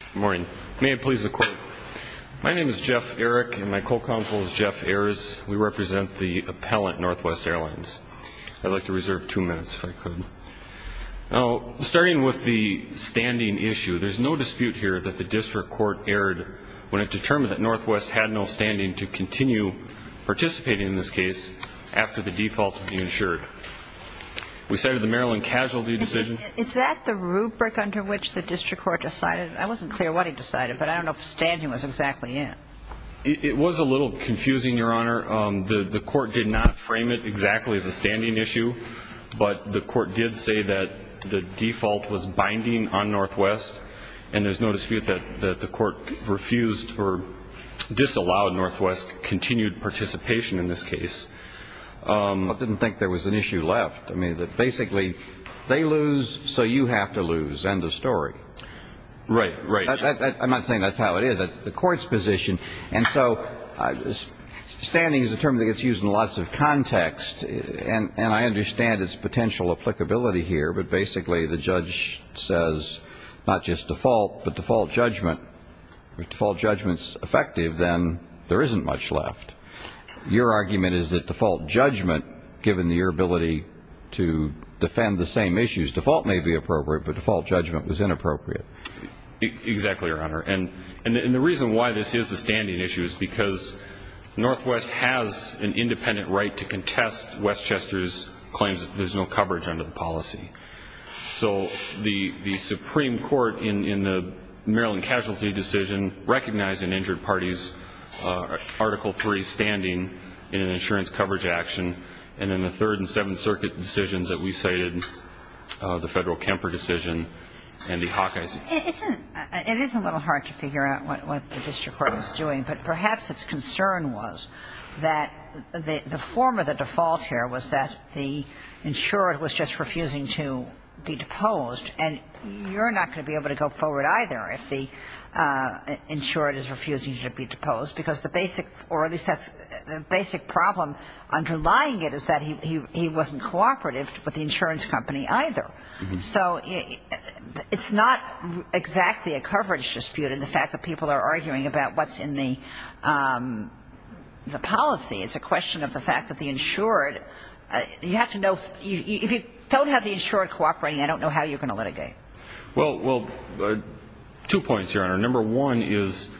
Good morning. May it please the Court. My name is Jeff Erick and my co-counsel is Jeff Ayers. We represent the appellant, Northwest Airlines. I'd like to reserve two minutes if I could. Now, starting with the standing issue, there's no dispute here that the District Court erred when it determined that Northwest had no standing to continue participating in this case after the default had been ensured. We cited the Maryland Casualty Decision. Is that the rubric under which the District Court decided? I wasn't clear what it decided, but I don't know if standing was exactly it. It was a little confusing, Your Honor. The Court did not frame it exactly as a standing issue, but the Court did say that the default was binding on Northwest, and there's no dispute that the Court refused or disallowed Northwest's continued participation in this case. I didn't think there was an issue left. I mean, basically, they lose, so you have to lose. End of story. Right, right. I'm not saying that's how it is. That's the Court's position. And so standing is a term that gets used in lots of context, and I understand its potential applicability here, but basically the judge says not just default, but default judgment. If default judgment's effective, then there isn't much left. Your argument is that default judgment, given your ability to defend the same issues, default may be appropriate, but default judgment was inappropriate. Exactly, Your Honor. And the reason why this is a standing issue is because Northwest has an independent right to contest Westchester's claims that there's no coverage under the policy. So the Supreme Court in the Maryland casualty decision recognized an injured party's Article III standing in an insurance coverage action, and in the Third and Seventh Circuit decisions that we cited, the Federal Kemper decision and the Hawkeyes. It is a little hard to figure out what the district court was doing, but perhaps its concern was that the form of the default here was that the insured was just refusing to be deposed, and you're not going to be able to go forward either if the insured is refusing to be deposed, because the basic problem underlying it is that he wasn't cooperative with the insurance company either. So it's not exactly a coverage dispute in the fact that people are arguing about what's in the policy. It's a question of the fact that the insured, you have to know, if you don't have the insured cooperating, I don't know how you're going to litigate. Well, two points, Your Honor. Number one is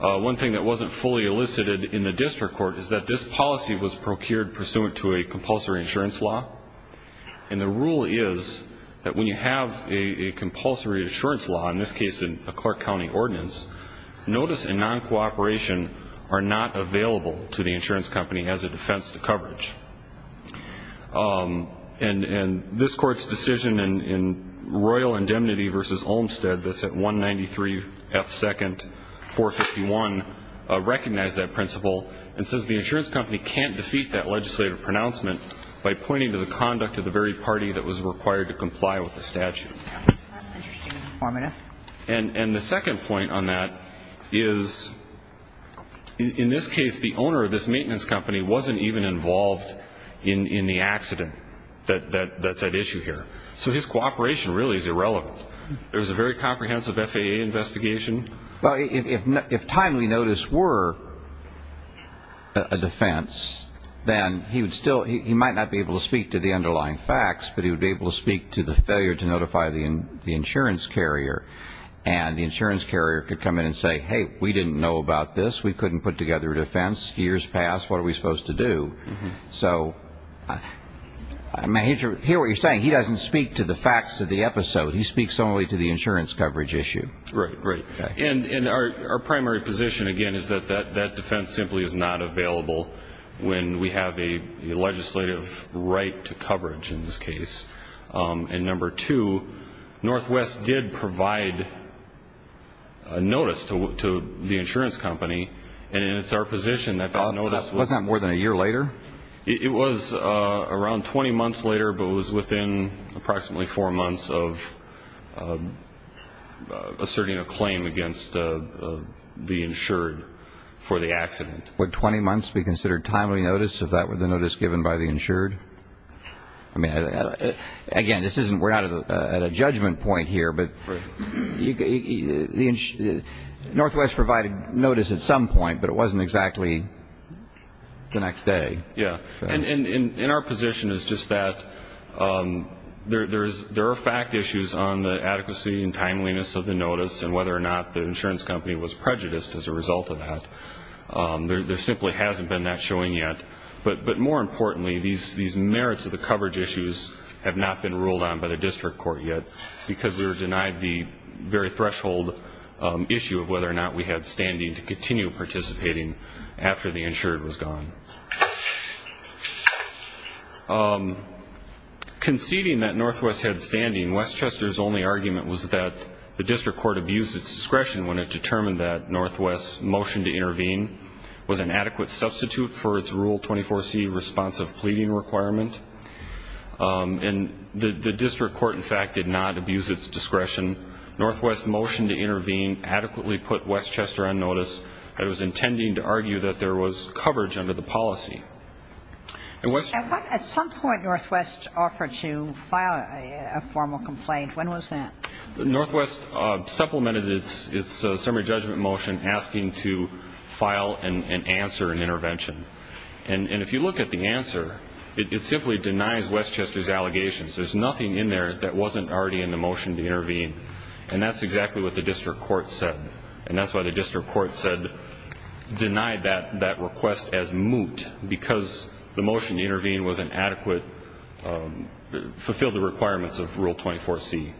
one thing that wasn't fully elicited in the district court is that this policy was procured pursuant to a compulsory insurance law, and the rule is that when you have a compulsory insurance law, in this case a Clark County ordinance, notice and non-cooperation are not available to the insurance company as a defense to coverage. And this Court's decision in Royal Indemnity v. Olmstead, that's at 193 F. 2nd 451, recognized that principle and says the insurance company can't defeat that legislative pronouncement by pointing to the conduct of the very party that was required to comply with the statute. That's interesting and informative. And the second point on that is in this case the owner of this maintenance company wasn't even involved in the accident that's at issue here. So his cooperation really is irrelevant. There was a very comprehensive FAA investigation. Well, if timely notice were a defense, then he might not be able to speak to the underlying facts, but he would be able to speak to the failure to notify the insurance carrier, and the insurance carrier could come in and say, hey, we didn't know about this, we couldn't put together a defense, years passed, what are we supposed to do? So I hear what you're saying. He doesn't speak to the facts of the episode. He speaks only to the insurance coverage issue. Right, right. And our primary position, again, is that that defense simply is not available when we have a legislative right to coverage in this case. And number two, Northwest did provide a notice to the insurance company, and it's our position that that notice was Wasn't that more than a year later? It was around 20 months later, but it was within approximately four months of asserting a claim against the insured for the accident. Would 20 months be considered timely notice if that were the notice given by the insured? I mean, again, we're not at a judgment point here, but Northwest provided notice at some point, but it wasn't exactly the next day. Yeah. And our position is just that there are fact issues on the adequacy and timeliness of the notice and whether or not the insurance company was prejudiced as a result of that. There simply hasn't been that showing yet. But more importantly, these merits of the coverage issues have not been ruled on by the district court yet because we were denied the very threshold issue of whether or not we had standing to continue participating after the insured was gone. Conceding that Northwest had standing, Westchester's only argument was that the district court abused its discretion when it determined that Northwest's motion to intervene was an adequate substitute for its Rule 24C responsive pleading requirement. And the district court, in fact, did not abuse its discretion. Northwest's motion to intervene adequately put Westchester on notice. It was intending to argue that there was coverage under the policy. At some point, Northwest offered to file a formal complaint. When was that? Northwest supplemented its summary judgment motion asking to file an answer and intervention. And if you look at the answer, it simply denies Westchester's allegations. There's nothing in there that wasn't already in the motion to intervene. And that's exactly what the district court said. And that's why the district court denied that request as moot because the motion to intervene wasn't adequate, fulfilled the requirements of Rule 24C.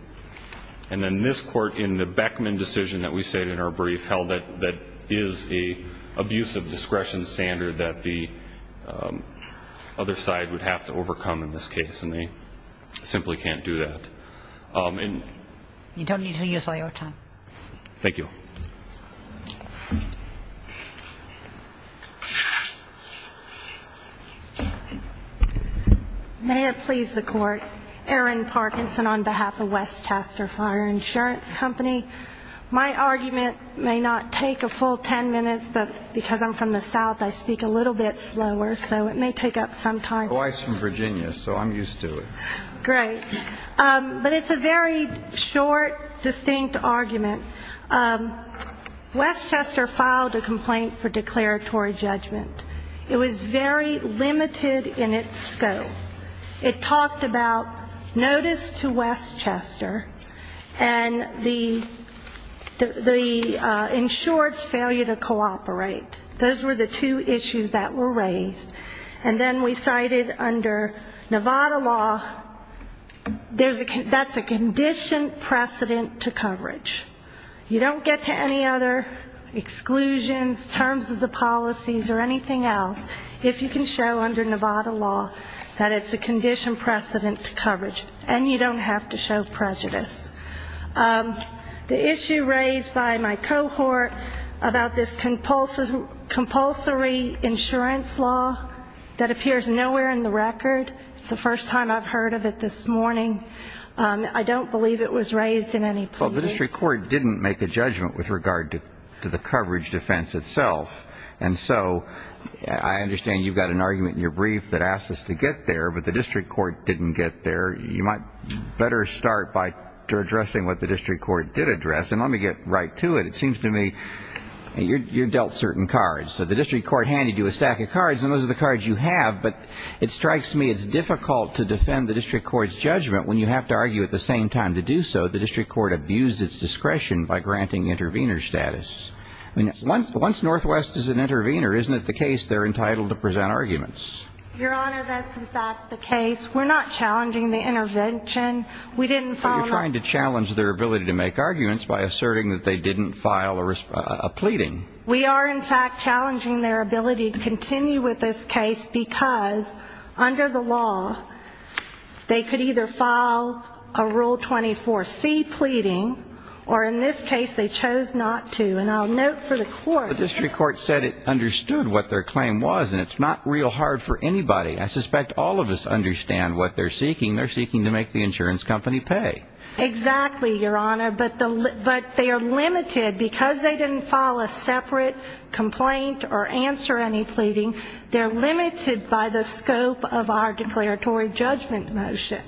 And then this Court, in the Beckman decision that we said in our brief, held that that is an abusive discretion standard that the other side would have to overcome in this case, and they simply can't do that. And you don't need to use all your time. Thank you. May it please the Court. Erin Parkinson on behalf of Westchester Fire Insurance Company. My argument may not take a full ten minutes, but because I'm from the south, I speak a little bit slower, so it may take up some time. Oh, I'm from Virginia, so I'm used to it. Great. But it's a very short, distinct argument. Westchester filed a complaint for declaratory judgment. It was very limited in its scope. It talked about notice to Westchester and the insured's failure to cooperate. Those were the two issues that were raised. And then we cited under Nevada law, that's a conditioned precedent to coverage. You don't get to any other exclusions, terms of the policies, or anything else, if you can show under Nevada law that it's a conditioned precedent to coverage, and you don't have to show prejudice. The issue raised by my cohort about this compulsory insurance law that appears nowhere in the record, it's the first time I've heard of it this morning. I don't believe it was raised in any plea. Well, the district court didn't make a judgment with regard to the coverage defense itself. And so I understand you've got an argument in your brief that asks us to get there, but the district court didn't get there. You might better start by addressing what the district court did address. And let me get right to it. It seems to me you dealt certain cards. So the district court handed you a stack of cards, and those are the cards you have. But it strikes me it's difficult to defend the district court's judgment when you have to argue at the same time to do so. The district court abused its discretion by granting intervener status. Once Northwest is an intervener, isn't it the case they're entitled to present arguments? Your Honor, that's, in fact, the case. We're not challenging the intervention. We didn't file an argument. But you're trying to challenge their ability to make arguments by asserting that they didn't file a pleading. We are, in fact, challenging their ability to continue with this case because under the law they could either file a Rule 24C pleading, or in this case they chose not to. And I'll note for the court. The district court said it understood what their claim was, and it's not real hard for anybody. I suspect all of us understand what they're seeking. They're seeking to make the insurance company pay. Exactly, Your Honor. But they are limited. Because they didn't file a separate complaint or answer any pleading, they're limited by the scope of our declaratory judgment motion.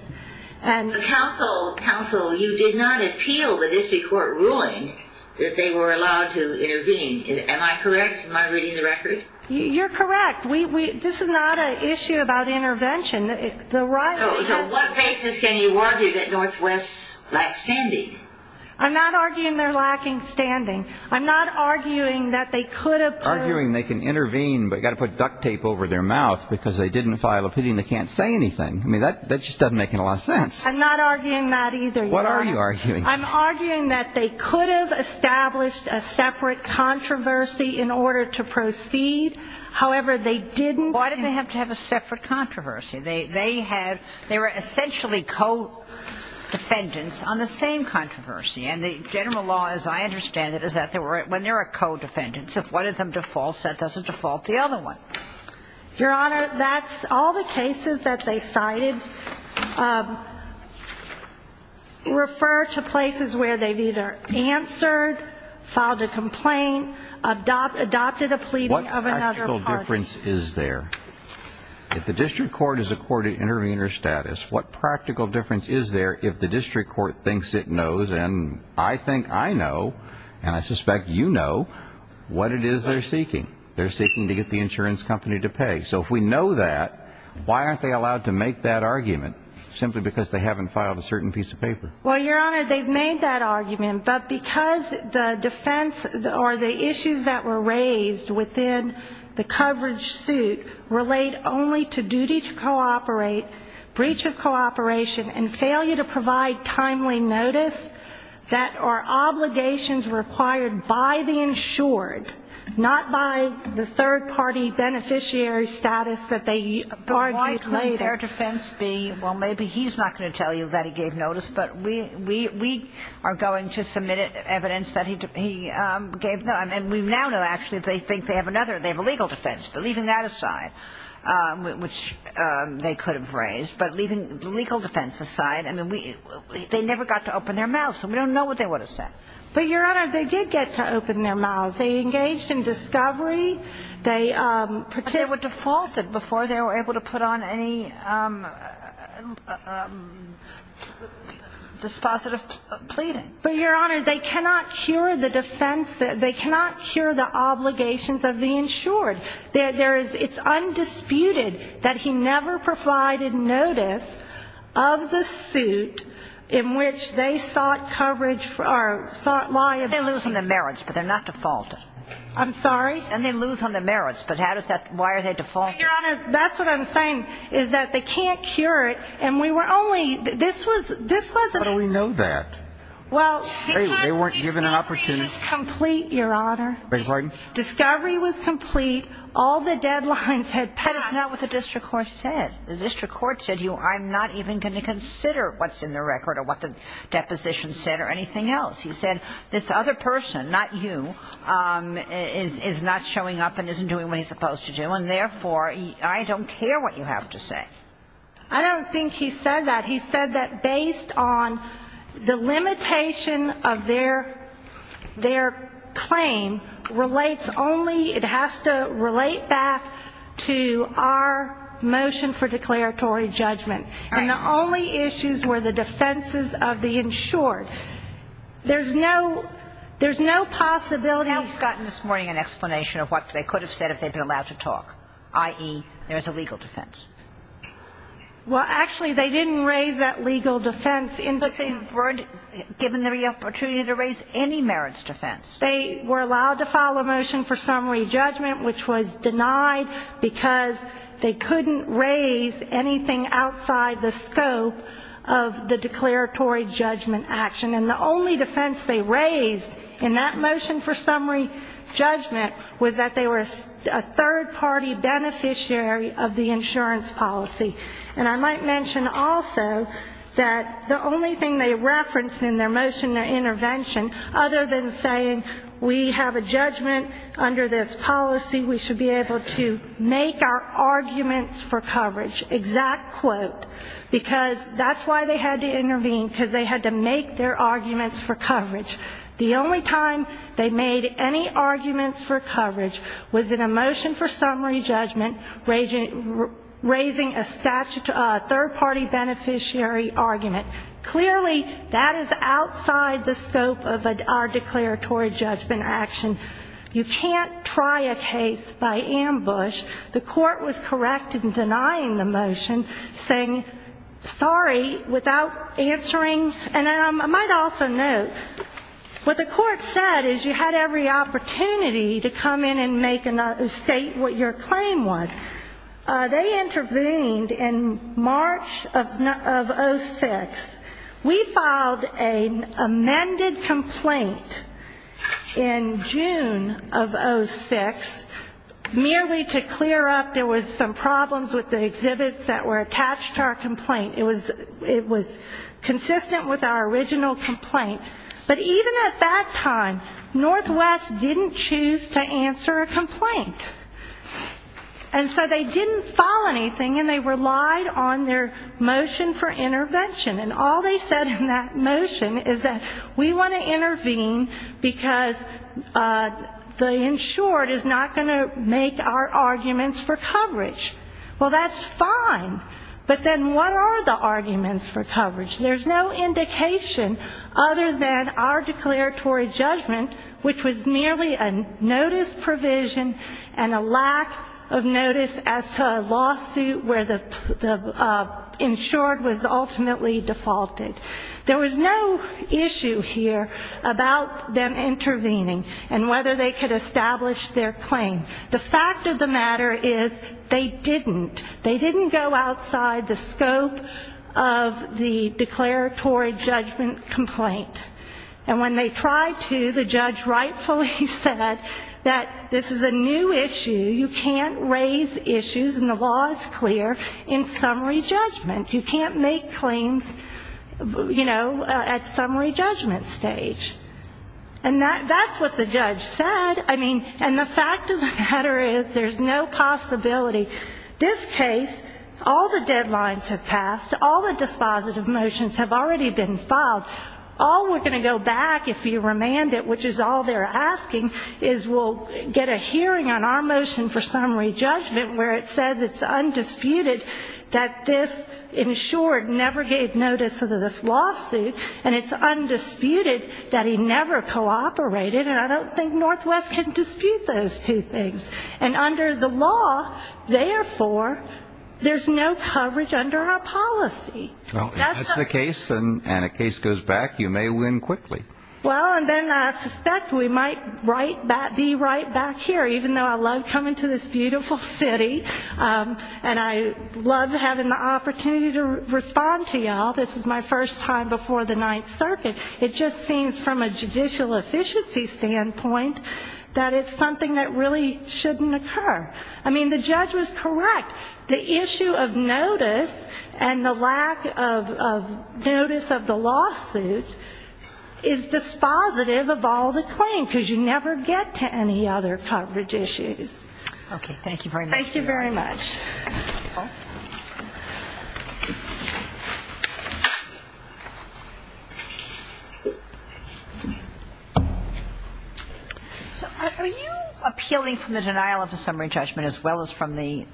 Counsel, you did not appeal the district court ruling that they were allowed to intervene. Am I correct? Am I reading the record? You're correct. This is not an issue about intervention. So what basis can you argue that Northwest lacks standing? I'm not arguing they're lacking standing. I'm not arguing that they could have posed. Arguing they can intervene but got to put duct tape over their mouth because they didn't file a pleading. They can't say anything. I mean, that just doesn't make a lot of sense. I'm not arguing that either, Your Honor. What are you arguing? I'm arguing that they could have established a separate controversy in order to proceed. However, they didn't. Why did they have to have a separate controversy? They were essentially co-defendants on the same controversy. And the general law, as I understand it, is that when there are co-defendants, if one of them defaults, that doesn't default the other one. Your Honor, all the cases that they cited refer to places where they've either answered, filed a complaint, adopted a pleading of another party. What practical difference is there? If the district court is a court of intervener status, what practical difference is there if the district court thinks it knows, and I think I know, and I suspect you know, what it is they're seeking. They're seeking to get the insurance company to pay. So if we know that, why aren't they allowed to make that argument? Simply because they haven't filed a certain piece of paper. Well, Your Honor, they've made that argument. But because the defense or the issues that were raised within the coverage suit relate only to duty to cooperate, breach of cooperation, and failure to provide timely notice, that are obligations required by the insured, not by the third-party beneficiary status that they argued later. But why couldn't their defense be, well, maybe he's not going to tell you that he gave notice, but we are going to submit evidence that he gave notice. And we now know, actually, they think they have another, they have a legal defense. But leaving that aside, which they could have raised, but leaving the legal defense aside, I mean, they never got to open their mouths, and we don't know what they would have said. But, Your Honor, they did get to open their mouths. They engaged in discovery. They participated. But they were defaulted before they were able to put on any dispositive pleading. But, Your Honor, they cannot cure the defense. They cannot cure the obligations of the insured. There is, it's undisputed that he never provided notice of the suit in which they sought coverage or sought liability. They lose in the merits, but they're not defaulted. I'm sorry? And they lose on the merits. But how does that, why are they defaulted? Your Honor, that's what I'm saying, is that they can't cure it. And we were only, this was, this was. How do we know that? Well, because discovery was complete, Your Honor. I beg your pardon? Discovery was complete. All the deadlines had passed. That is not what the district court said. The district court said, I'm not even going to consider what's in the record or what the deposition said or anything else. He said, this other person, not you, is not showing up and isn't doing what he's supposed to do, and therefore, I don't care what you have to say. I don't think he said that. He said that based on the limitation of their claim relates only, it has to relate back to our motion for declaratory judgment. Right. And the only issues were the defenses of the insured. There's no, there's no possibility. We haven't gotten this morning an explanation of what they could have said if they had been allowed to talk, i.e., there is a legal defense. Well, actually, they didn't raise that legal defense. But they weren't given the opportunity to raise any merits defense. They were allowed to file a motion for summary judgment, which was denied because they couldn't raise anything outside the scope of the declaratory judgment action. And the only defense they raised in that motion for summary judgment was that they were a third-party beneficiary of the insurance policy. And I might mention also that the only thing they referenced in their motion, their intervention, other than saying we have a judgment under this policy, we should be able to make our arguments for coverage. Exact quote. Because that's why they had to intervene, because they had to make their arguments for coverage. The only time they made any arguments for coverage was in a motion for summary judgment, raising a third-party beneficiary argument. Clearly, that is outside the scope of our declaratory judgment action. You can't try a case by ambush. The court was correct in denying the motion, saying, sorry, without answering. And I might also note, what the court said is you had every opportunity to come in and make a state what your claim was. They intervened in March of 06. We filed an amended complaint in June of 06, merely to clear up there was some problems with the exhibits that were attached to our complaint. It was consistent with our original complaint. But even at that time, Northwest didn't choose to answer a complaint. And so they didn't file anything, and they relied on their motion for intervention. And all they said in that motion is that we want to intervene because the insured is not going to make our arguments for coverage. Well, that's fine. But then what are the arguments for coverage? There's no indication other than our declaratory judgment, which was merely a notice provision and a lack of notice as to a lawsuit where the insured was ultimately defaulted. There was no issue here about them intervening and whether they could establish their claim. The fact of the matter is they didn't. They didn't go outside the scope of the declaratory judgment complaint. And when they tried to, the judge rightfully said that this is a new issue. You can't raise issues, and the law is clear, in summary judgment. You can't make claims, you know, at summary judgment stage. And that's what the judge said. I mean, and the fact of the matter is there's no possibility. This case, all the deadlines have passed, all the dispositive motions have already been filed. All we're going to go back, if you remand it, which is all they're asking, is we'll get a hearing on our motion for summary judgment where it says it's undisputed that this insured never gave notice of this lawsuit, and it's undisputed that he never cooperated. And I don't think Northwest can dispute those two things. And under the law, therefore, there's no coverage under our policy. Well, if that's the case and a case goes back, you may win quickly. Well, and then I suspect we might be right back here, even though I love coming to this beautiful city, and I love having the opportunity to respond to you all. This is my first time before the Ninth Circuit. It just seems from a judicial efficiency standpoint that it's something that really shouldn't occur. I mean, the judge was correct. The issue of notice and the lack of notice of the lawsuit is dispositive of all the claim, because you never get to any other coverage issues. Thank you very much. Are you appealing from the denial of the summary judgment as well as from the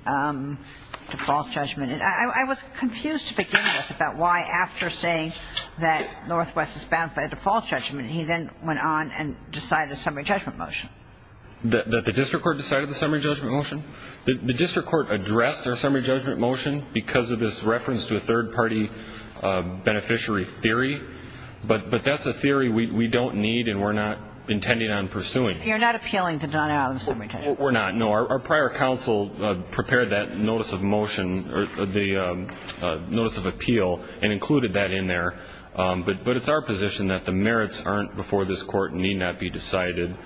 default judgment? I was confused to begin with about why, after saying that Northwest is bound by the default judgment, he then went on and decided the summary judgment motion. That the district court decided the summary judgment motion? The district court addressed our summary judgment motion because of this reference to a third-party beneficiary theory, but that's a theory we don't need and we're not intending on pursuing. You're not appealing to denial of the summary judgment? We're not, no. Our prior counsel prepared that notice of motion or the notice of appeal and included that in there, but it's our position that the merits aren't before this court and need not be decided,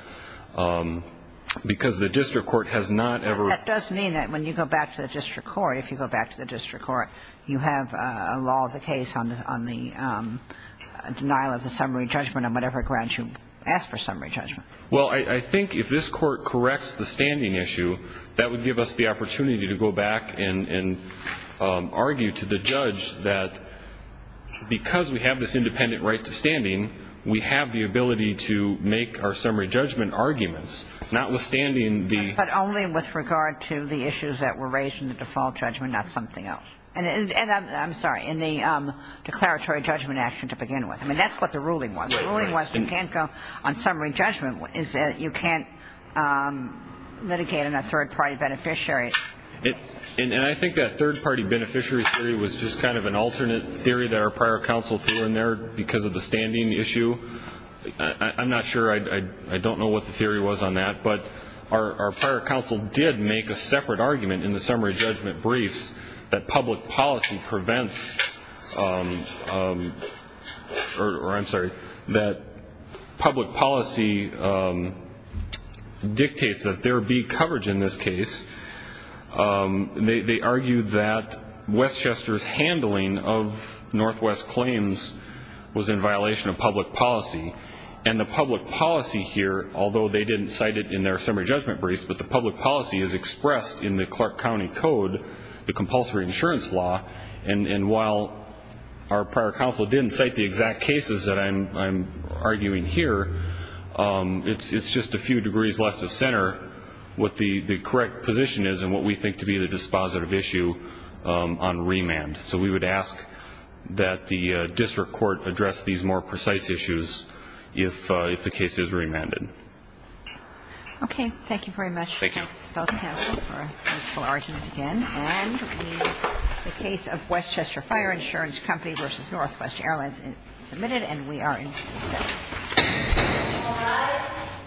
because the district court has not ever ---- That does mean that when you go back to the district court, if you go back to the district court, you have a law of the case on the denial of the summary judgment on whatever grounds you ask for summary judgment. Well, I think if this court corrects the standing issue, that would give us the opportunity to go back and argue to the judge that because we have this independent right to standing, we have the ability to make our summary judgment arguments, notwithstanding the ---- But only with regard to the issues that were raised in the default judgment, not something else. And I'm sorry, in the declaratory judgment action to begin with. I mean, that's what the ruling was. That's what the ruling was. You can't go on summary judgment. You can't litigate on a third-party beneficiary. And I think that third-party beneficiary theory was just kind of an alternate theory that our prior counsel threw in there because of the standing issue. I'm not sure. I don't know what the theory was on that, but our prior counsel did make a separate argument in the summary judgment briefs that public policy prevents or I'm sorry, that public policy dictates that there be coverage in this case. They argued that Westchester's handling of Northwest claims was in violation of public policy. And the public policy here, although they didn't cite it in their summary judgment briefs, but the public policy is expressed in the Clark County Code, the compulsory insurance law, and while our prior counsel didn't cite the exact cases that I'm arguing here, it's just a few degrees left of center what the correct position is and what we think to be the dispositive issue on remand. So we would ask that the district court address these more precise issues if the case is remanded. Okay. Thank you very much. Thank you. Thank you both counsel for a useful argument again. And the case of Westchester Fire Insurance Company v. Northwest Airlines is submitted and we are in recess. All rise.